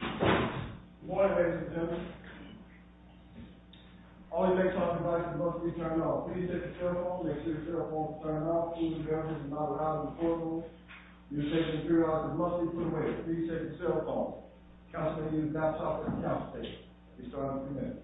Good morning ladies and gentlemen. All your makeup and devices must be turned off. Please take your cell phone, make sure your cell phone is turned off. Please remember this is not allowed in the courtroom. You are taking three hours and must be put away. Please take your cell phone. Counselor, you do not suffer from constipation. I'll be starting in three minutes.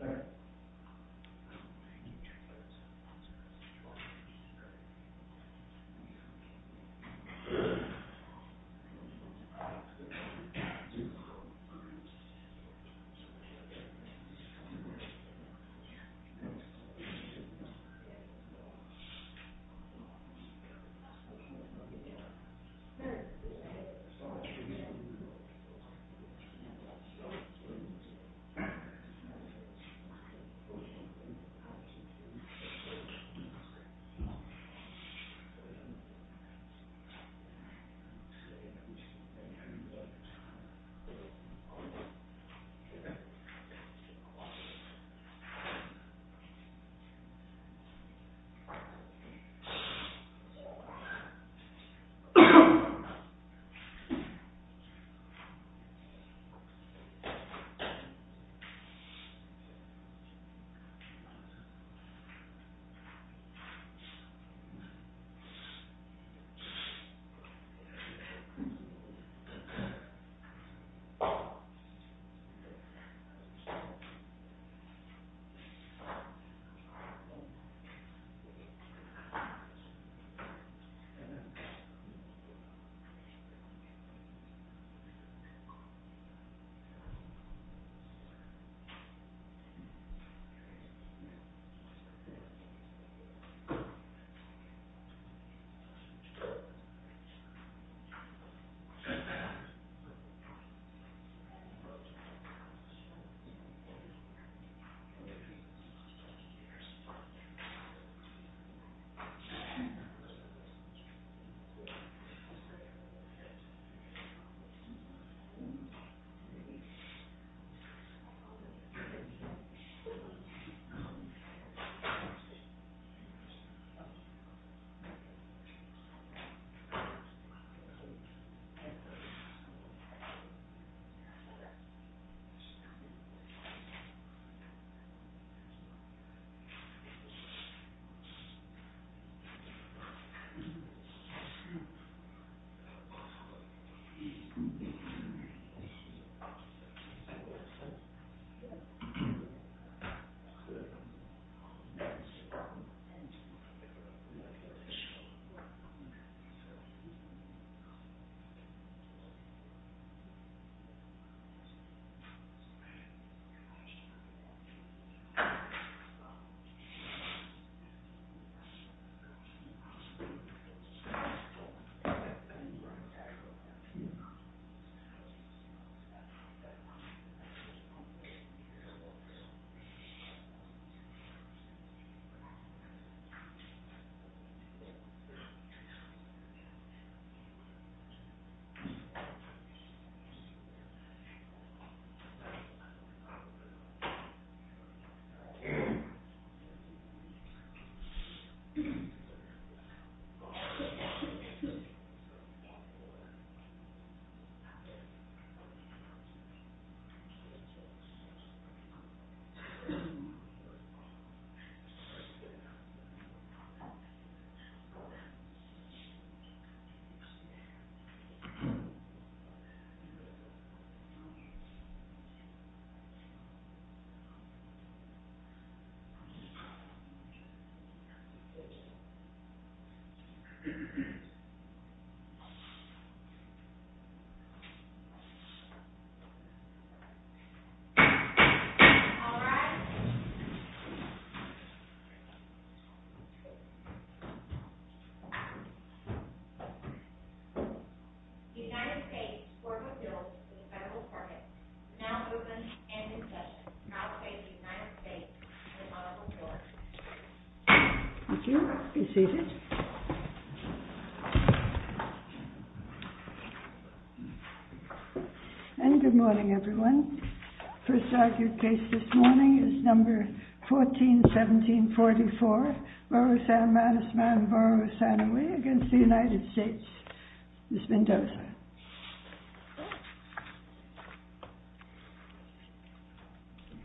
Thank you. Thank you. Thank you. Thank you. Thank you. Thank you. Thank you. Thank you. Thank you. Thank you. Yes. Thank you. Yes. Thank you. Thank you. Thank you. Thank you. Thank you. Thank you. Thank you. Thank you. All rise. Thank you. Thank you. Be seated. And good morning, everyone. The first argued case this morning is number 14-17-44, Morosan Manusman, Morosanoe, against the United States, Ms. Mendoza.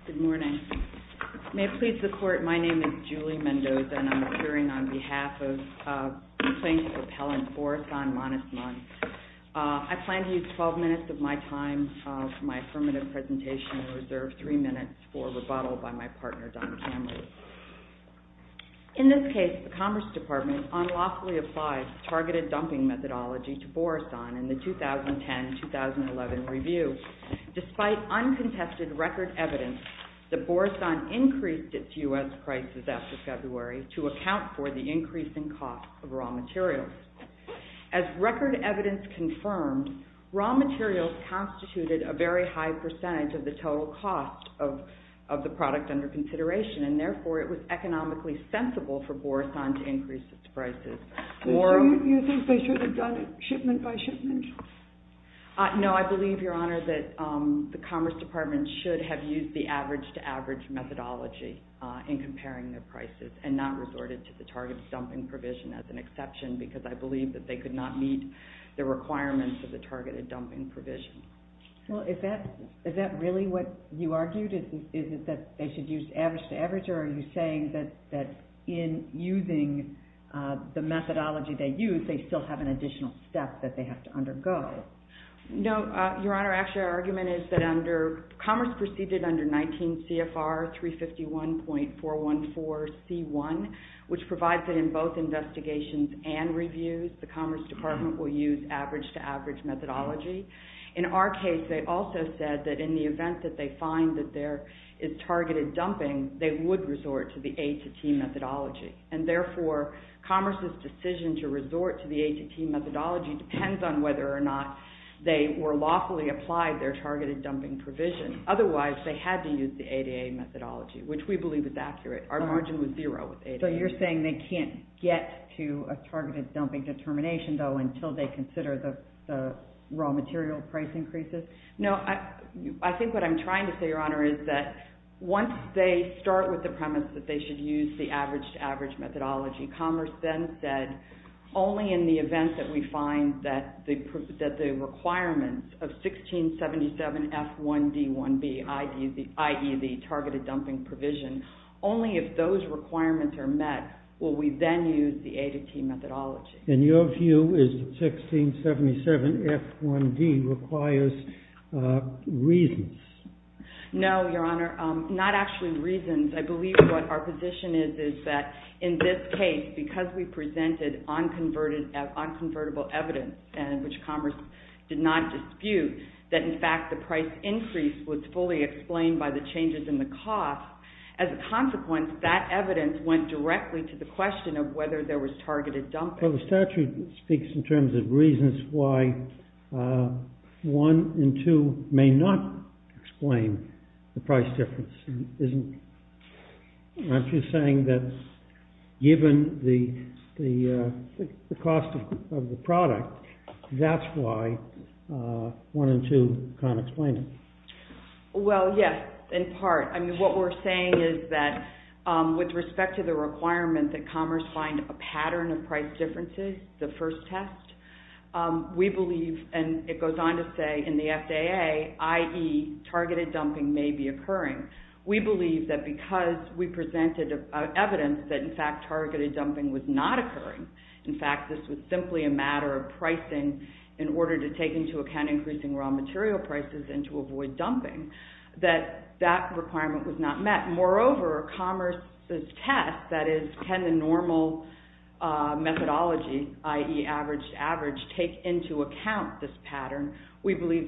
Good morning. May it please the Court, my name is Julie Mendoza, and I'm appearing on behalf of Plaintiff Appellant Morosan Manusman. I plan to use 12 minutes of my time for my affirmative presentation and reserve three minutes for rebuttal by my partner, Don Cameron. In this case, the Commerce Department unlawfully applied targeted dumping methodology to Morosan in the 2010-2011 review. Despite uncontested record evidence that Morosan increased its U.S. prices after February to account for the increasing cost of raw materials. As record evidence confirmed, raw materials constituted a very high percentage of the total cost of the product under consideration, and therefore it was economically sensible for Morosan to increase its prices. Do you think they should have done it shipment by shipment? No, I believe, Your Honor, that the Commerce Department should have used the average-to-average methodology in comparing their prices and not resorted to the targeted dumping provision as an error, and I believe that they could not meet the requirements of the targeted dumping provision. Well, is that really what you argued? Is it that they should use average-to-average, or are you saying that in using the methodology they used, they still have an additional step that they have to undergo? No, Your Honor. Actually, our argument is that Commerce proceeded under 19 CFR 351.414C1, which provides that in both investigations and reviews, the Commerce Department will use average-to-average methodology. In our case, they also said that in the event that they find that there is targeted dumping, they would resort to the A-to-T methodology, and therefore Commerce's decision to resort to the A-to-T methodology depends on whether or not they were lawfully applied their targeted dumping provision. Otherwise, they had to use the A-to-A methodology, which we believe is accurate. Our margin was zero with A-to-A. So you're saying they can't get to a targeted dumping determination, though, until they consider the raw material price increases? I think what I'm trying to say, Your Honor, is that once they start with the premise that they should use the average-to-average methodology, Commerce then said, only in the event that we find that the requirements of 1677F1D1B, i.e., the targeted dumping provision, only if those requirements are met will we then use the A-to-T methodology. And your view is that 1677F1D requires reasons? No, Your Honor, not actually reasons. I believe what our position is is that in this case, because we did not dispute that, in fact, the price increase was fully explained by the changes in the cost, as a consequence, that evidence went directly to the question of whether there was targeted dumping. Well, the statute speaks in terms of reasons why one and two may not explain the price difference. Aren't you saying that given the cost of the product, that's why one and two can't explain it? Well, yes, in part. I mean, what we're saying is that with respect to the requirement that Commerce find a pattern of price differences, the first test, we believe, and it goes on to say in the FAA, i.e., targeted dumping may be occurring. We believe that because we presented evidence that, in fact, targeted dumping was not occurring, in fact, this was simply a matter of pricing in order to take into account increasing raw material prices and to avoid dumping, that that requirement was not met. Moreover, Commerce's test, that is, can the normal methodology, i.e., average to average, take into account this pattern, we believe,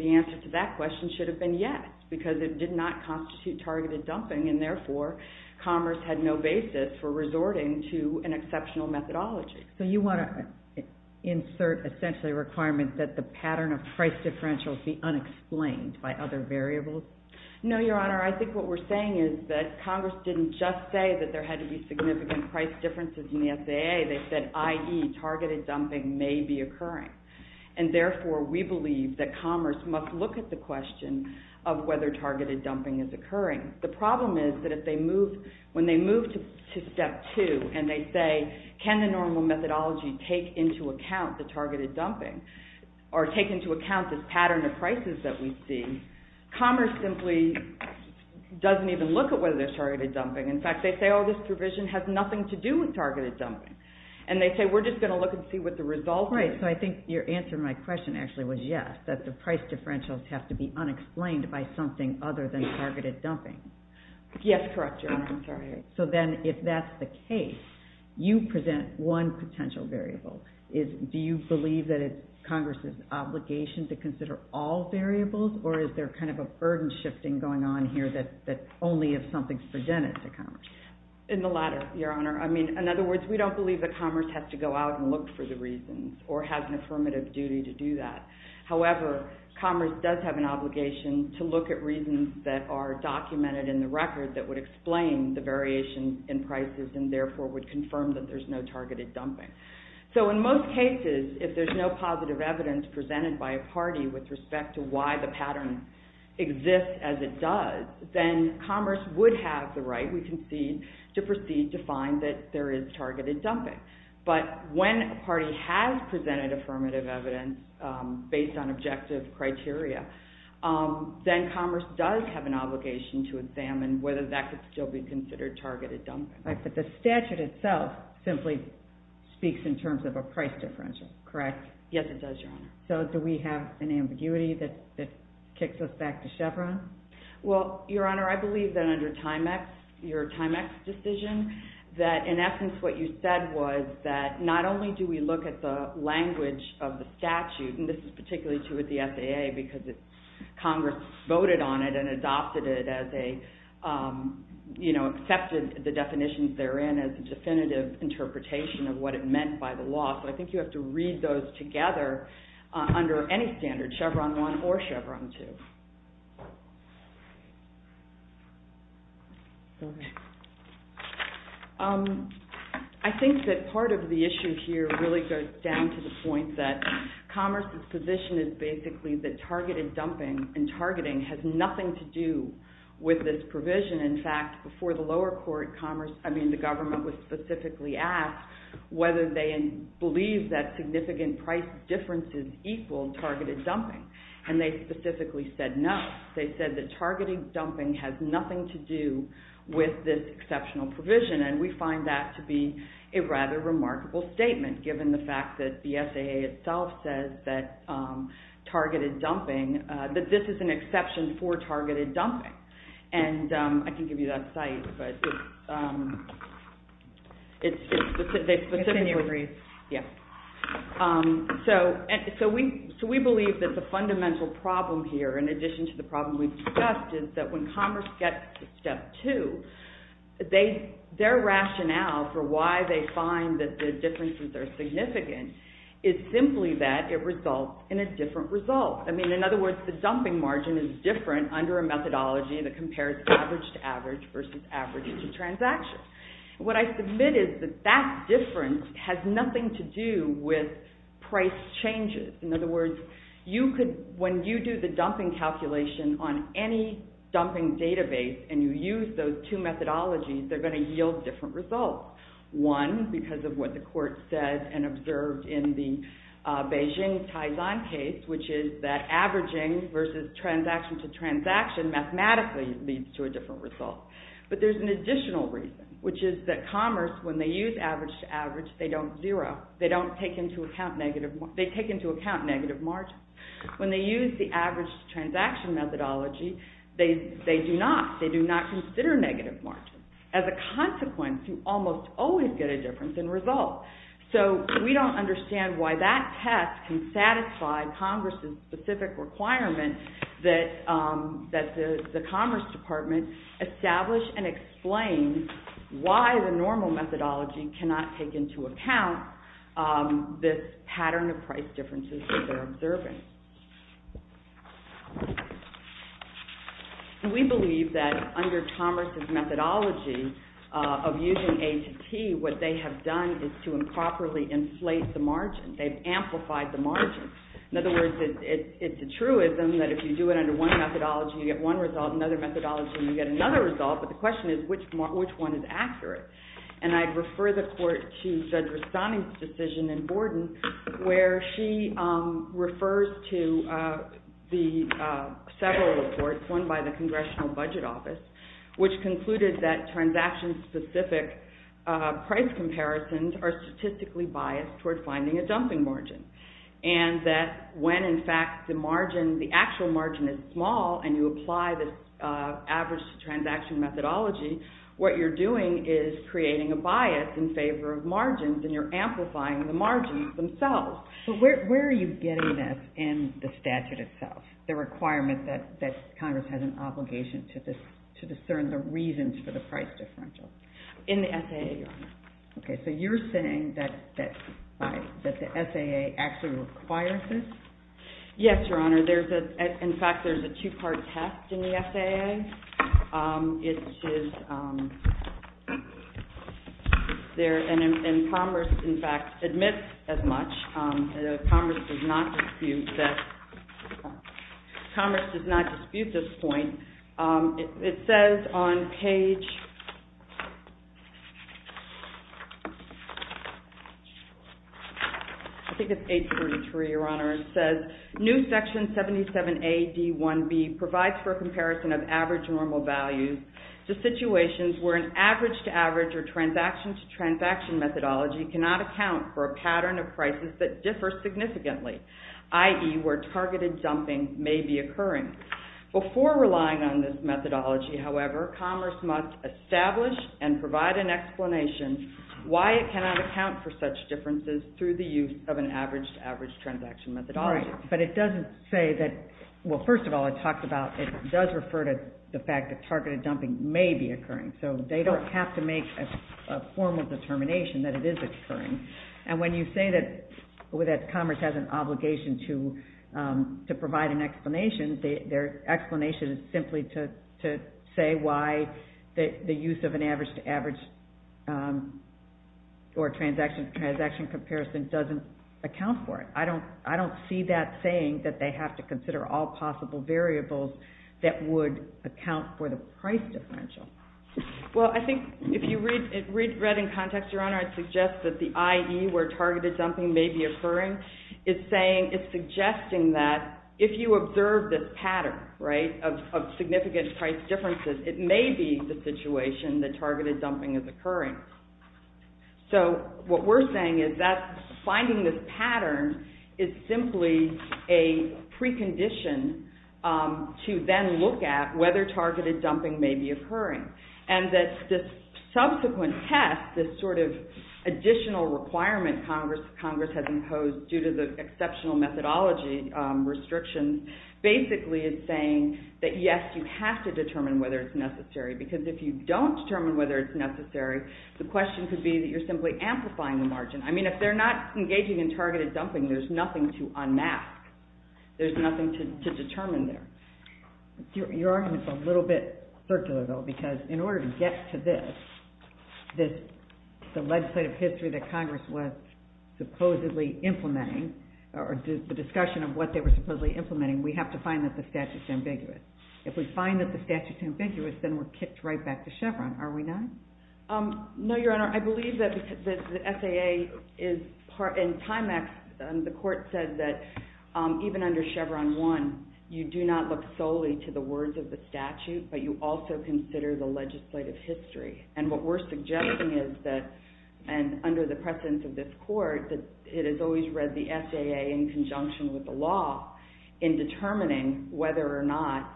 because it did not constitute targeted dumping and therefore Commerce had no basis for resorting to an exceptional methodology. So you want to insert essentially a requirement that the pattern of price differentials be unexplained by other variables? No, Your Honor. I think what we're saying is that Congress didn't just say that there had to be significant price differences in the FAA. They said, i.e., targeted dumping may be occurring. And therefore, we believe that Commerce must look at the occurring. The problem is that if they move, when they move to Step 2 and they say, can the normal methodology take into account the targeted dumping or take into account this pattern of prices that we see, Commerce simply doesn't even look at whether there's targeted dumping. In fact, they say, oh, this provision has nothing to do with targeted dumping. And they say, we're just going to look and see what the result is. Right. So I think your answer to my question actually was yes, that the price differentials have to be unexplained by something other than targeted dumping. Yes, correct, Your Honor. I'm sorry. So then if that's the case, you present one potential variable. Do you believe that it's Congress's obligation to consider all variables or is there kind of a burden shifting going on here that only if something's presented to Commerce? In the latter, Your Honor. I mean, in other words, we don't believe that Commerce has to go out and look for the reasons or has an affirmative duty to do that. However, Commerce does have an obligation to look at reasons that are documented in the record that would explain the variation in prices and therefore would confirm that there's no targeted dumping. So in most cases, if there's no positive evidence presented by a party with respect to why the pattern exists as it does, then Commerce would have the right, we concede, to proceed to find that there is targeted dumping. But when a party has presented affirmative evidence based on objective criteria, then Commerce does have an obligation to examine whether that could still be considered targeted dumping. But the statute itself simply speaks in terms of a price differential, correct? Yes, it does, Your Honor. So do we have an ambiguity that kicks us back to Chevron? Well, Your Honor, I believe that under Timex, your Timex decision, that in essence what you said was that not only do we look at the language of the statute, and this is particularly true with the FAA because Congress voted on it and adopted it as a, you know, accepted the definitions therein as a definitive interpretation of what it meant by the law. So I think you have to read those together under any standard, Chevron 1 or Chevron 2. Okay. I think that part of the issue here really goes down to the point that Commerce's position is basically that targeted dumping and targeting has nothing to do with this provision. In fact, before the lower court, Commerce, I mean the government, was specifically asked whether they believe that significant price differences equal targeted dumping. And they specifically said no. They said that targeted dumping has nothing to do with this exceptional provision, and we find that to be a rather remarkable statement given the fact that the FAA itself says that targeted dumping, that this is an exception for targeted dumping. And I can give you that site, but it's specifically... Can you read? Yes. So we believe that the fundamental problem here, in addition to the problem we've discussed, is that when Commerce gets to step two, their rationale for why they find that the differences are significant is simply that it results in a different result. I mean, in other words, the dumping margin is different under a methodology that compares average to average versus average to transaction. What I submit is that that difference has nothing to do with price changes. In other words, when you do the dumping calculation on any dumping database and you use those two methodologies, they're going to yield different results. One, because of what the court said and observed in the Beijing Taizan case, which is that averaging versus transaction to transaction mathematically leads to a different result. But there's an additional reason, which is that Commerce, when they use average to average, they don't zero. They don't take into account negative... They take into account negative margins. When they use the average to transaction methodology, they do not. They do not consider negative margins. As a consequence, you almost always get a difference in result. So we don't understand why that test can satisfy Congress's specific requirement that the Commerce Department establishes and explains why the normal methodology cannot take into account this pattern of price differences that they're observing. We believe that under Commerce's methodology of using A to T, what they have done is to improperly inflate the margin. They've amplified the margin. In other words, it's a truism that if you do it under one methodology, you get one result. Another methodology, you get another result. But the question is, which one is accurate? And I'd refer the Court to Judge Rastani's decision in Borden where she refers to the several reports, one by the Congressional Budget Office, which concluded that transaction-specific price comparisons are statistically biased toward finding a dumping margin. And that when, in fact, the actual margin is small and you apply the average transaction methodology, what you're doing is creating a bias in favor of margins and you're amplifying the margins themselves. But where are you getting this in the statute itself, the requirement that Congress has an obligation to discern the reasons for the price differential? In the SAA, Your Honor. Okay. So you're saying that the SAA actually requires this? Yes, Your Honor. In fact, there's a two-part test in the SAA. And Congress, in fact, admits as much. Congress does not dispute this point. It says on page, I think it's 833, Your Honor. It says, New Section 77A.D.1B provides for a comparison of average normal values to situations where an average-to-average or transaction-to-transaction methodology cannot account for a pattern of prices that differ significantly, i.e., where targeted dumping may be occurring. Before relying on this methodology, however, commerce must establish and provide an explanation why it cannot account for such differences through the use of an average-to-average methodology. All right. But it doesn't say that, well, first of all, it talks about, it does refer to the fact that targeted dumping may be occurring. So they don't have to make a formal determination that it is occurring. And when you say that Congress has an obligation to provide an explanation, their explanation is simply to say why the use of an average-to-average or transaction-to-transaction comparison doesn't account for it. I don't see that saying that they have to consider all possible variables that would account for the price differential. Well, I think if you read it in context, Your Honor, I'd suggest that the I.E., where targeted dumping may be occurring, is saying, it's suggesting that if you observe this pattern, right, of significant price differences, it may be the situation that targeted dumping is occurring. So what we're saying is that finding this pattern is simply a precondition to then look at whether targeted dumping may be occurring. And that this subsequent test, this sort of additional requirement Congress has imposed due to the exceptional methodology restrictions, basically is saying that, yes, you have to determine whether it's necessary. Because if you don't determine whether it's necessary, the question could be that you're simply amplifying the margin. I mean, if they're not engaging in targeted dumping, there's nothing to unmask. There's nothing to determine there. Your argument's a little bit circular, though, because in order to get to this, the legislative history that Congress was supposedly implementing, or the discussion of what they were supposedly implementing, we have to find that the statute's ambiguous. If we find that the statute's ambiguous, then we're kicked right back to Chevron. Are we not? No, Your Honor. I believe that the SAA is part, in Timex, the court said that even under Chevron 1, you do not look solely to the words of the statute, but you also consider the legislative history. And what we're suggesting is that, and under the presence of this court, that it has always read the SAA in conjunction with the law in determining whether or not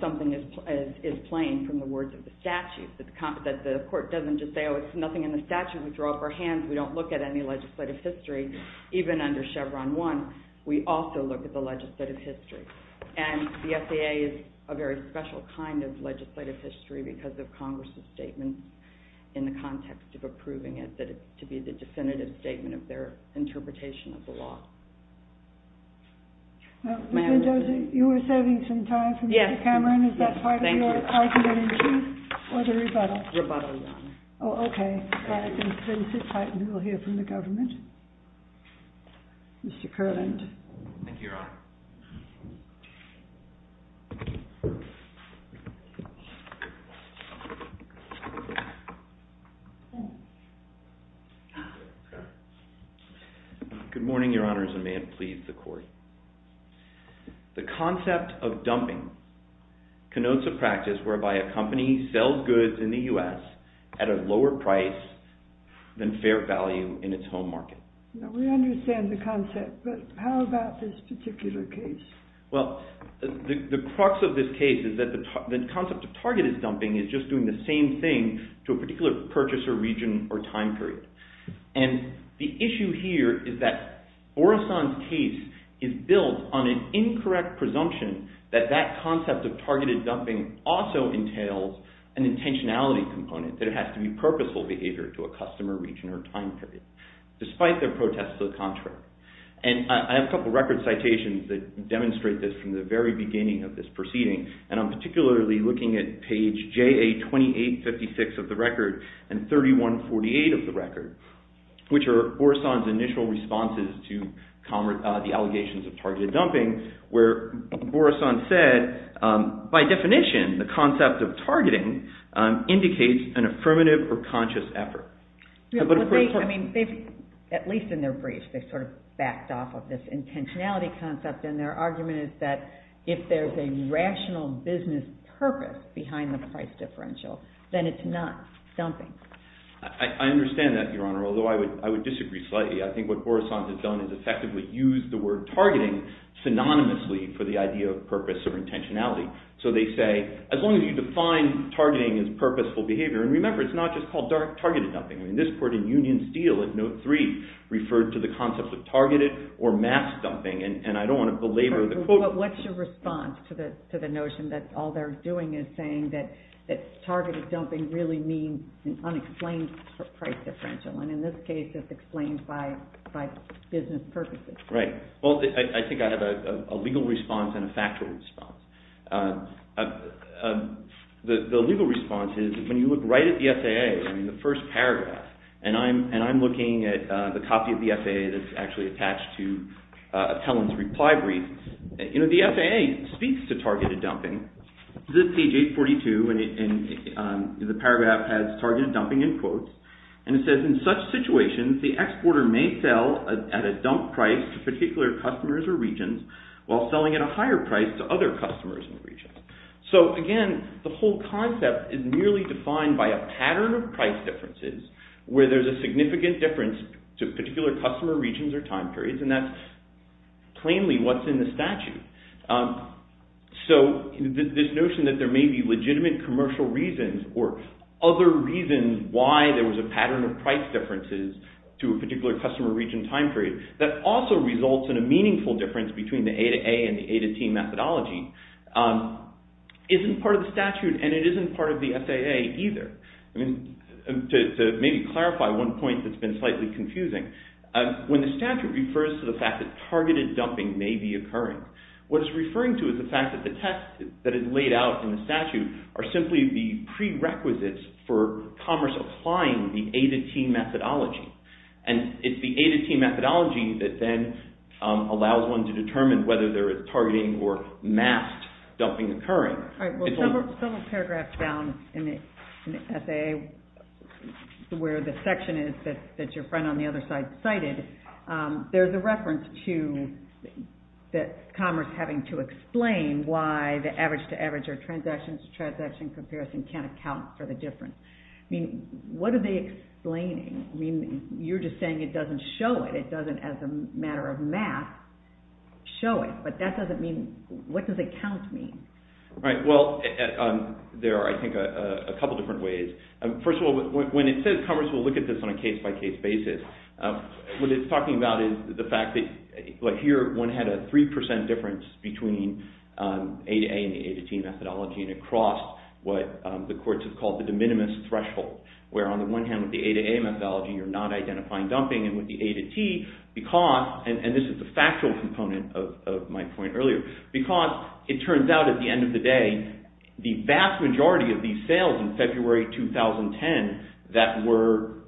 something is plain from the words of the statute, that the court doesn't just say, oh, it's nothing in the statute. We throw up our hands. We don't look at any legislative history, even under Chevron 1. We also look at the legislative history. And the SAA is a very special kind of legislative history because of Congress's statement in the context of approving it, that it's to be the definitive statement of their interpretation of the law. You were saving some time for Mr. Cameron. Is that part of your argument in truth or the rebuttal? Rebuttal, Your Honor. Oh, okay. Then we'll hear from the government. Mr. Kerland. Thank you, Your Honor. Good morning, Your Honors, and may it please the Court. The concept of dumping connotes a practice whereby a company sells goods in the U.S. at a lower price than fair value in its home market. Now, we understand the concept, but how about this particular case? Well, the concept of dumping, the crux of this case is that the concept of targeted dumping is just doing the same thing to a particular purchaser, region, or time period. And the issue here is that Orison's case is built on an incorrect presumption that that concept of targeted dumping also entails an intentionality component, that it has to be purposeful behavior to a customer, region, or time period, despite their protest to the contrary. And I have a couple of record citations that demonstrate this from the very beginning of this proceeding, and I'm particularly looking at page JA2856 of the record and 3148 of the record, which are Orison's initial responses to the allegations of targeted dumping, where Orison said, by definition, the concept of targeting indicates an affirmative or conscious effort. I mean, at least in their briefs, they sort of backed off of this intentionality concept, and their argument is that if there's a rational business purpose behind the price differential, then it's not dumping. I understand that, Your Honor, although I would disagree slightly. I think what Orison has done is effectively used the word targeting synonymously for the idea of purpose or intentionality. So they say, as long as you define targeting as purposeful behavior, and remember, it's not just called targeted dumping. I mean, this court in Union Steel at Note 3 referred to the concept of targeted or masked dumping, and I don't want to belabor the quote. But what's your response to the notion that all they're doing is saying that targeted dumping really means an unexplained price differential, and in this case, it's explained by business purposes? Right. Well, I think I have a legal response and a factual response. The legal response is, when you look right at the FAA, I mean, the first paragraph, and I'm looking at the copy of the Helen's reply brief, you know, the FAA speaks to targeted dumping. This is page 842, and the paragraph has targeted dumping in quotes, and it says, in such situations, the exporter may sell at a dump price to particular customers or regions while selling at a higher price to other customers and regions. So, again, the whole concept is merely defined by a pattern of price differences where there's a significant difference to particular customer regions or time periods, and that's plainly what's in the statute. So this notion that there may be legitimate commercial reasons or other reasons why there was a pattern of price differences to a particular customer region time period that also results in a meaningful difference between the A to A and the A to T methodology isn't part of the statute, and it isn't part of the FAA either. To maybe clarify one point that's been slightly confusing, when the statute refers to the fact that targeted dumping may be occurring, what it's referring to is the fact that the test that is laid out in the statute are simply the prerequisites for commerce applying the A to T methodology, and it's the A to T methodology that then allows one to determine whether there is targeting or masked dumping occurring. All right. Well, several paragraphs down in the FAA where the section is that your friend on the other side cited, there's a reference to commerce having to explain why the average to average or transaction to transaction comparison can't account for the difference. I mean, what are they explaining? I mean, you're just saying it doesn't show it. It doesn't, as a matter of math, show it. But that doesn't mean – what does account mean? Right. Well, there are, I think, a couple different ways. First of all, when it says commerce will look at this on a case-by-case basis, what it's talking about is the fact that, like here, one had a 3% difference between A to A and A to T methodology, and it crossed what the courts have called the de minimis threshold, where on the one hand, with the A to A methodology, you're not identifying dumping, and with the A to T, because – and this is the factual component of my point earlier – because it turns out, at the end of the day, the vast majority of these sales in February 2010 that were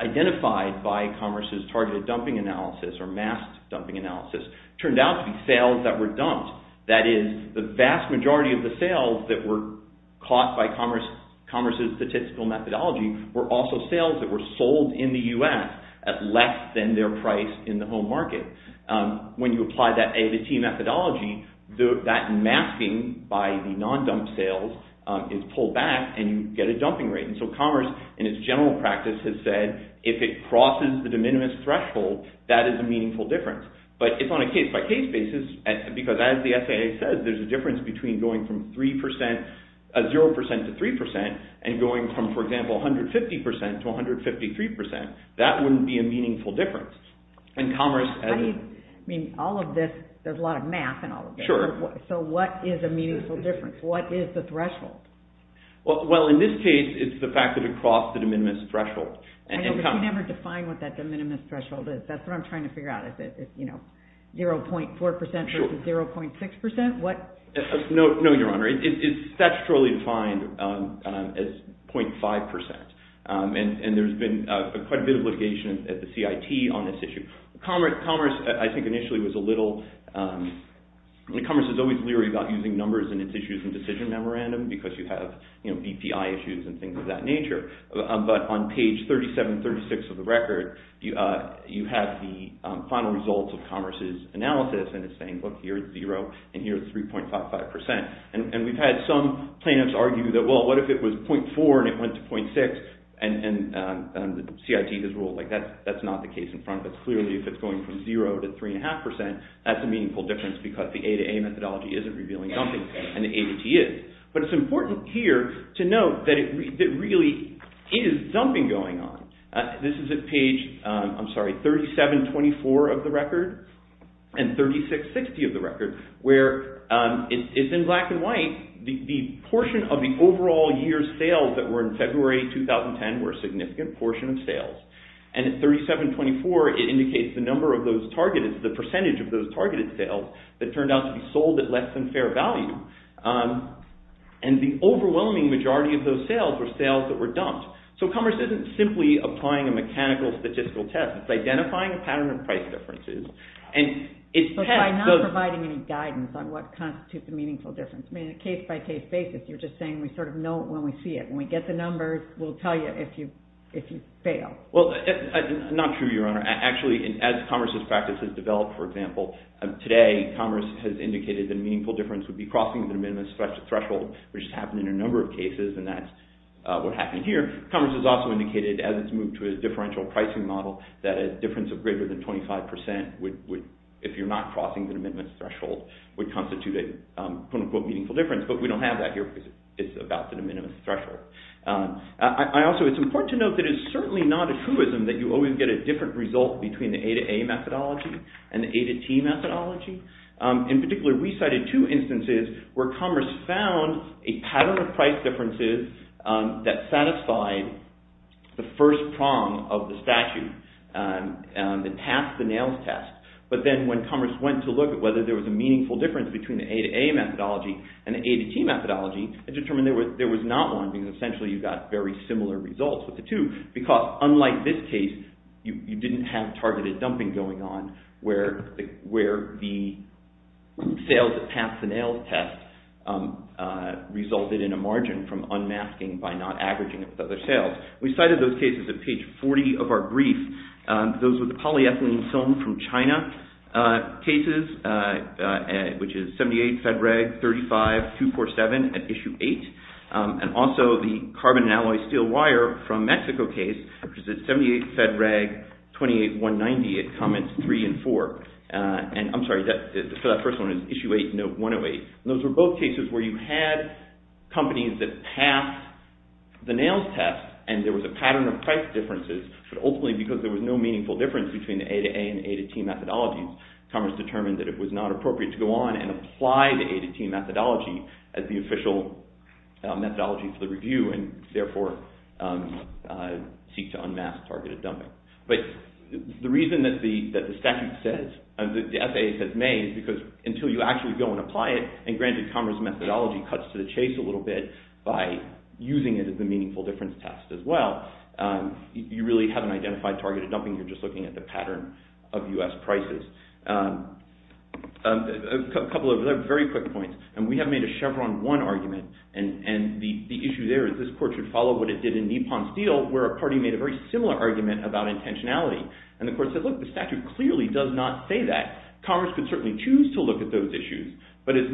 identified by commerce's targeted dumping analysis or masked dumping analysis turned out to be sales that were dumped. That is, the vast majority of the sales that were caught by commerce's statistical methodology were also sales that were sold in the U.S. at less than their price in the home market. When you apply that A to T methodology, that masking by the non-dump sales is pulled back, and you get a dumping rate. So commerce, in its general practice, has said, if it crosses the de minimis threshold, that is a meaningful difference. But it's on a case-by-case basis, because as the SAA says, there's a difference between going from 0% to 3% and going from, for example, 150% to 153%. That wouldn't be a meaningful difference. I mean, all of this – there's a lot of math in all of this. Sure. So what is a meaningful difference? What is the threshold? Well, in this case, it's the fact that it crossed the de minimis threshold. But you never define what that de minimis threshold is. That's what I'm trying to figure out. Is it 0.4% versus 0.6%? No, Your Honor. It's statutorily defined as 0.5%. And there's been quite a bit of litigation at the CIT on this issue. Commerce, I think, initially was a little – commerce is always leery about using numbers in its issues and decision memorandum, because you have BPI issues and things of that nature. But on page 3736 of the record, you have the final results of commerce's analysis, and it's saying, look, here's 0, and here's 3.55%. And we've had some plaintiffs argue that, well, what if it was 0.4% and it went to 0.6%, and the CIT has ruled, like, that's not the case in front of us. Clearly, if it's going from 0 to 3.5%, that's a meaningful difference, because the A2A methodology isn't revealing something, and the ADT is. But it's important here to note that it really is dumping going on. This is at page – I'm sorry – 3724 of the record and 3660 of the record, where it's in black and white the portion of the overall year's sales that were in February 2010 were a significant portion of sales. And at 3724, it indicates the percentage of those targeted sales that turned out to be sold at less than fair value. And the overwhelming majority of those sales were sales that were dumped. So commerce isn't simply applying a mechanical statistical test. It's identifying a pattern of price differences. But by not providing any guidance on what constitutes a meaningful difference. I mean, on a case-by-case basis, you're just saying we sort of know it when we see it. When we get the numbers, we'll tell you if you fail. Well, not true, Your Honor. Actually, as commerce's practice has developed, for example, today commerce has indicated that a meaningful difference would be crossing the minimum threshold, which has happened in a number of cases, and that's what happened here. Commerce has also indicated, as it's moved to a differential pricing model, that a difference of greater than 25% would – if you're not crossing the minimum threshold – would constitute a quote-unquote meaningful difference. But we don't have that here because it's about the minimum threshold. Also, it's important to note that it's certainly not a truism that you always get a different result between the A-to-A methodology and the A-to-T methodology. In particular, we cited two instances where commerce found a pattern of price differences that satisfied the first prong of the statute and passed the NAILS test. But then when commerce went to look at whether there was a meaningful difference between the A-to-A methodology and the A-to-T methodology, it determined there was not one because essentially you got very similar results with the two because, unlike this case, you didn't have targeted dumping going on where the sales that passed the NAILS test resulted in a margin from unmasking by not averaging it with other sales. We cited those cases at page 40 of our brief. Those were the polyethylene film from China cases, which is 78 FEDRAG 35247 at issue 8, and also the carbon and alloy steel wire from Mexico case, which is 78 FEDRAG 28190 at comments 3 and 4. I'm sorry, for that first one, it's issue 8, note 108. Those were both cases where you had companies that passed the NAILS test and there was a pattern of price differences, but ultimately because there was no meaningful difference between the A-to-A and the A-to-T methodologies, commerce determined that it was not appropriate to go on and apply the A-to-T methodology as the official methodology for the review and therefore seek to unmask targeted dumping. But the reason that the statute says, the FAA says may, is because until you actually go and apply it, and granted commerce methodology cuts to the chase a little bit by using it as a meaningful difference test as well, you really haven't identified targeted dumping, you're just looking at the pattern of U.S. prices. A couple of very quick points. We have made a Chevron 1 argument, and the issue there is this court should follow what it did in Nippon Steel, where a party made a very similar argument about intentionality. And the court said, look, the statute clearly does not say that. Commerce could certainly choose to look at those issues, but it's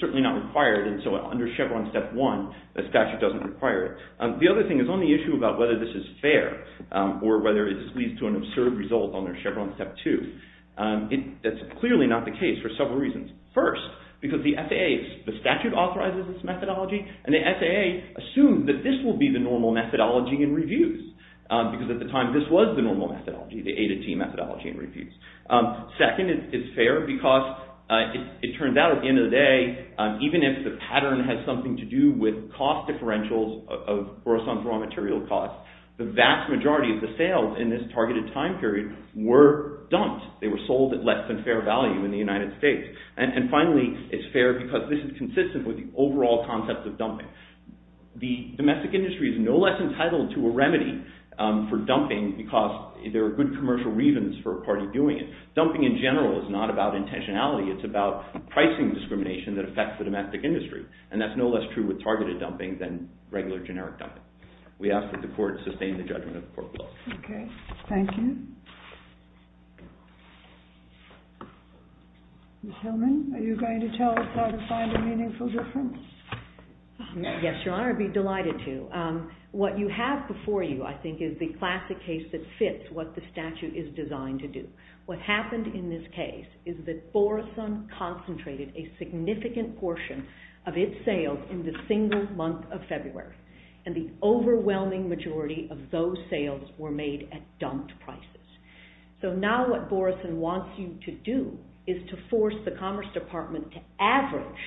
certainly not required, and so under Chevron step 1, the statute doesn't require it. The other thing is on the issue about whether this is fair, or whether this leads to an absurd result under Chevron step 2. That's clearly not the case for several reasons. First, because the FAA, the statute authorizes this methodology, and the FAA assumes that this will be the normal methodology in reviews, because at the time this was the normal methodology, the A-to-T methodology in reviews. Second, it's fair because it turns out at the end of the day, even if the pattern has something to do with cost differentials of gross on raw material costs, the vast majority of the sales in this targeted time period were dumped. They were sold at less than fair value in the United States. And finally, it's fair because this is consistent with the overall concept of dumping. The domestic industry is no less entitled to a remedy for dumping, because there are good commercial reasons for a party doing it. Dumping in general is not about intentionality, it's about pricing discrimination that affects the domestic industry, and that's no less true with targeted dumping than regular generic dumping. We ask that the court sustain the judgment of the court of law. Okay, thank you. Ms. Hillman, are you going to tell us how to find a meaningful difference? Yes, Your Honor, I'd be delighted to. What you have before you, I think, is the classic case that fits what the statute is designed to do. What happened in this case is that Borison concentrated a significant portion of its sales in the single month of February, and the overwhelming majority of those sales were made at dumped prices. So now what Borison wants you to do is to force the Commerce Department to average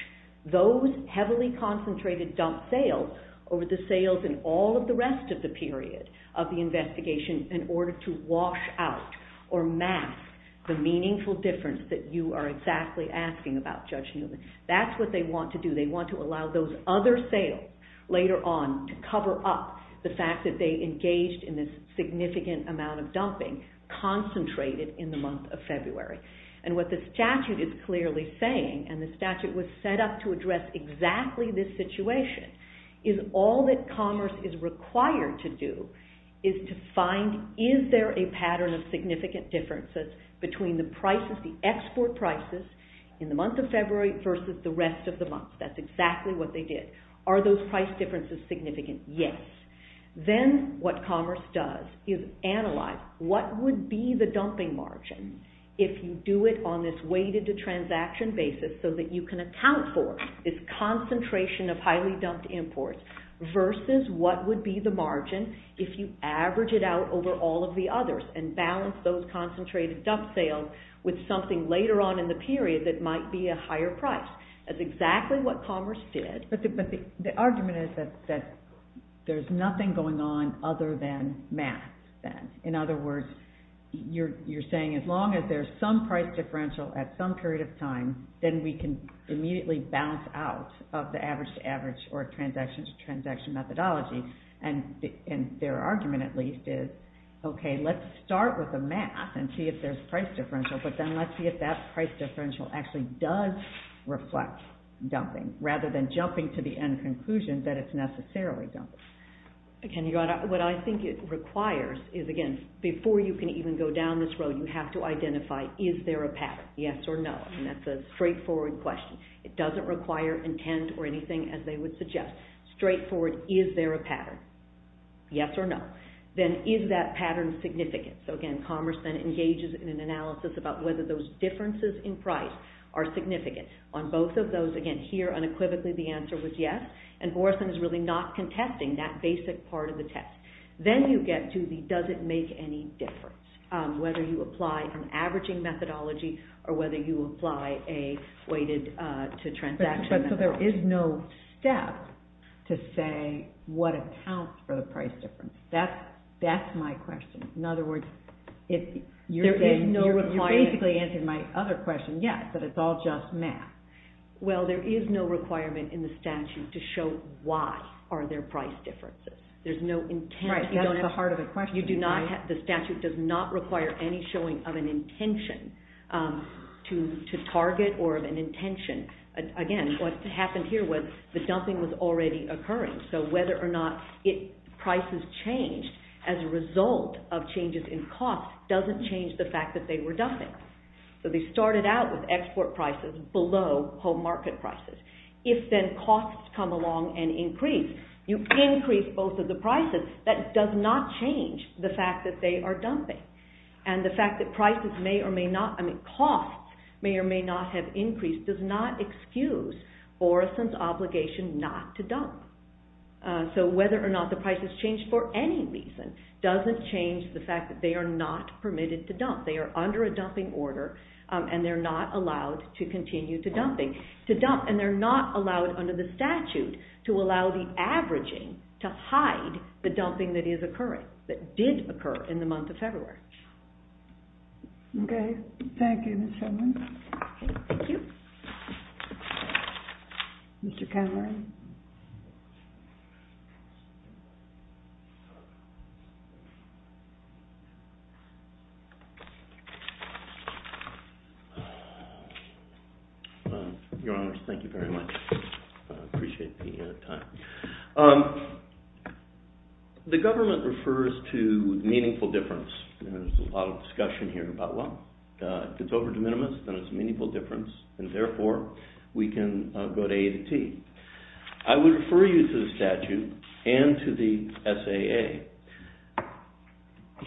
those heavily concentrated dumped sales over the sales in all of the rest of the period of the investigation in order to wash out or mask the meaningful difference that you are exactly asking about, Judge Newman. That's what they want to do. They want to allow those other sales later on to cover up the fact that they engaged in this significant amount of dumping concentrated in the month of February. And what the statute is clearly saying, and the statute was set up to address exactly this situation, is all that commerce is required to do is to find is there a pattern of significant differences between the prices, the export prices in the month of February versus the rest of the month. That's exactly what they did. Are those price differences significant? Yes. Then what commerce does is analyze what would be the dumping margin if you do it on this weighted transaction basis so that you can account for this concentration of highly dumped imports versus what would be the margin if you average it out over all of the others and balance those concentrated dumped sales with something later on in the period that might be a higher price. That's exactly what commerce did. But the argument is that there's nothing going on other than math. In other words, you're saying as long as there's some price differential at some period of time, then we can immediately bounce out of the average-to-average or transaction-to-transaction methodology. And their argument, at least, is, okay, let's start with the math and see if there's price differential, but then let's see if that price differential actually does reflect dumping rather than jumping to the end conclusion that it's necessarily dumping. What I think it requires is, again, before you can even go down this road, you have to identify, is there a pattern, yes or no? And that's a straightforward question. It doesn't require intent or anything, as they would suggest. Straightforward, is there a pattern, yes or no? Then is that pattern significant? So again, commerce then engages in an analysis about whether those differences in price are significant. On both of those, again, here unequivocally the answer was yes, and Borson is really not contesting that basic part of the test. Then you get to the does it make any difference, whether you apply an averaging methodology or whether you apply a weighted-to-transaction methodology. So there is no step to say what accounts for the price difference. That's my question. In other words, you're basically answering my other question, yes, but it's all just math. Well, there is no requirement in the statute to show why are there price differences. There's no intent. Right, that's the heart of the question. The statute does not require any showing of an intention to target or of an intention. Again, what happened here was the dumping was already occurring, so whether or not prices changed as a result of changes in cost doesn't change the fact that they were dumping. So they started out with export prices below home market prices. If then costs come along and increase, you increase both of the prices. That does not change the fact that they are dumping, and the fact that costs may or may not have increased does not excuse Orison's obligation not to dump. So whether or not the price has changed for any reason doesn't change the fact that they are not permitted to dump. They are under a dumping order, and they're not allowed to continue to dump, and they're not allowed under the statute to allow the averaging to hide the dumping that is occurring, that did occur in the month of February. Okay. Thank you, Ms. Sheldon. Thank you. Mr. Cameron. Your Honor, thank you very much. I appreciate the time. The government refers to meaningful difference. There's a lot of discussion here about, well, if it's over de minimis, then it's meaningful difference, and therefore we can go to A to T. I would refer you to the statute and to the SAA.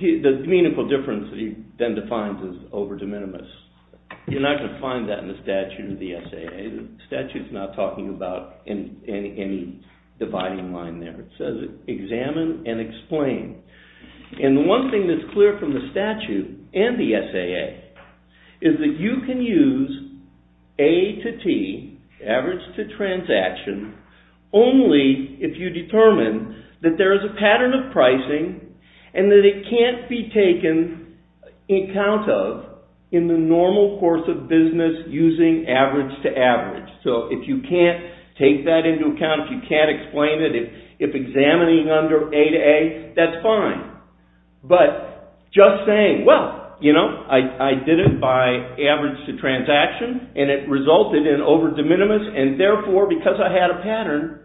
The meaningful difference that he then defines is over de minimis. You're not going to find that in the statute or the SAA. The statute is not talking about any dividing line there. It says examine and explain. And the one thing that's clear from the statute and the SAA is that you can use A to T, average to transaction, only if you determine that there is a pattern of pricing and that it can't be taken account of in the normal course of business using average to average. So if you can't take that into account, if you can't explain it, if examining under A to A, that's fine. But just saying, well, you know, I did it by average to transaction and it resulted in over de minimis, and therefore because I had a pattern,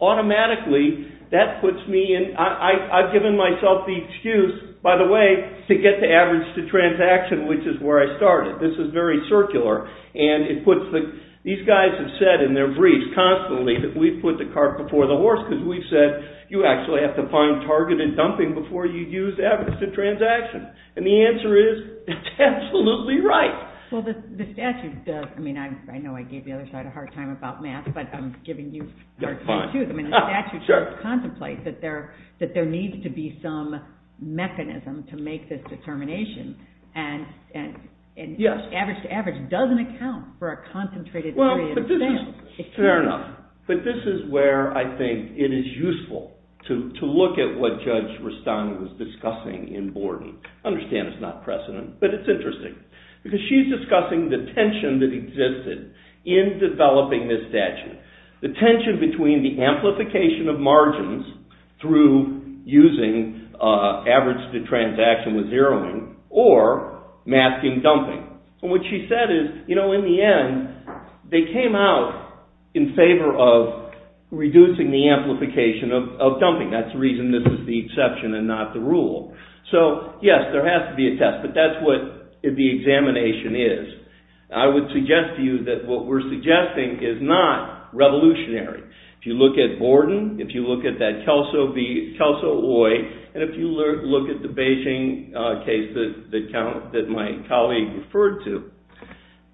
automatically that puts me in. I've given myself the excuse, by the way, to get to average to transaction, which is where I started. This is very circular. These guys have said in their briefs constantly that we've put the cart before the horse because we've said you actually have to find targeted dumping before you use average to transaction. And the answer is it's absolutely right. Well, the statute does. I mean, I know I gave the other side a hard time about math, but I'm giving you a hard time too. The statute does contemplate that there needs to be some mechanism to make this determination, and just average to average doesn't account for a concentrated area of expense. Well, fair enough. But this is where I think it is useful to look at what Judge Rustani was discussing in Borden. I understand it's not precedent, but it's interesting because she's discussing the tension that existed in developing this statute, the tension between the amplification of margins through using average to transaction with zeroing or masking dumping. And what she said is, you know, in the end, they came out in favor of reducing the amplification of dumping. That's the reason this is the exception and not the rule. So, yes, there has to be a test, but that's what the examination is. I would suggest to you that what we're suggesting is not revolutionary. If you look at Borden, if you look at that Kelso Oi, and if you look at the Beijing case that my colleague referred to,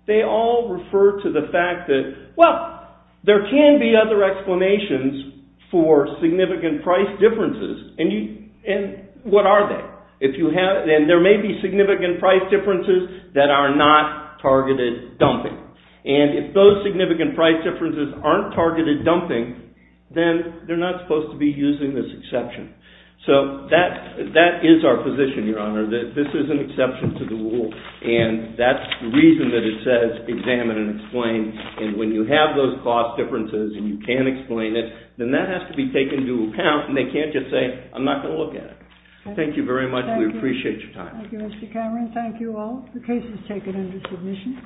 they all refer to the fact that, well, there can be other explanations for significant price differences. And what are they? And there may be significant price differences that are not targeted dumping. And if those significant price differences aren't targeted dumping, then they're not supposed to be using this exception. So that is our position, Your Honor, that this is an exception to the rule, and that's the reason that it says, examine and explain. And when you have those cost differences and you can explain it, then that has to be taken into account, and they can't just say, I'm not going to look at it. Thank you very much. We appreciate your time. Thank you, Mr. Cameron. Thank you all. The case is taken under submission.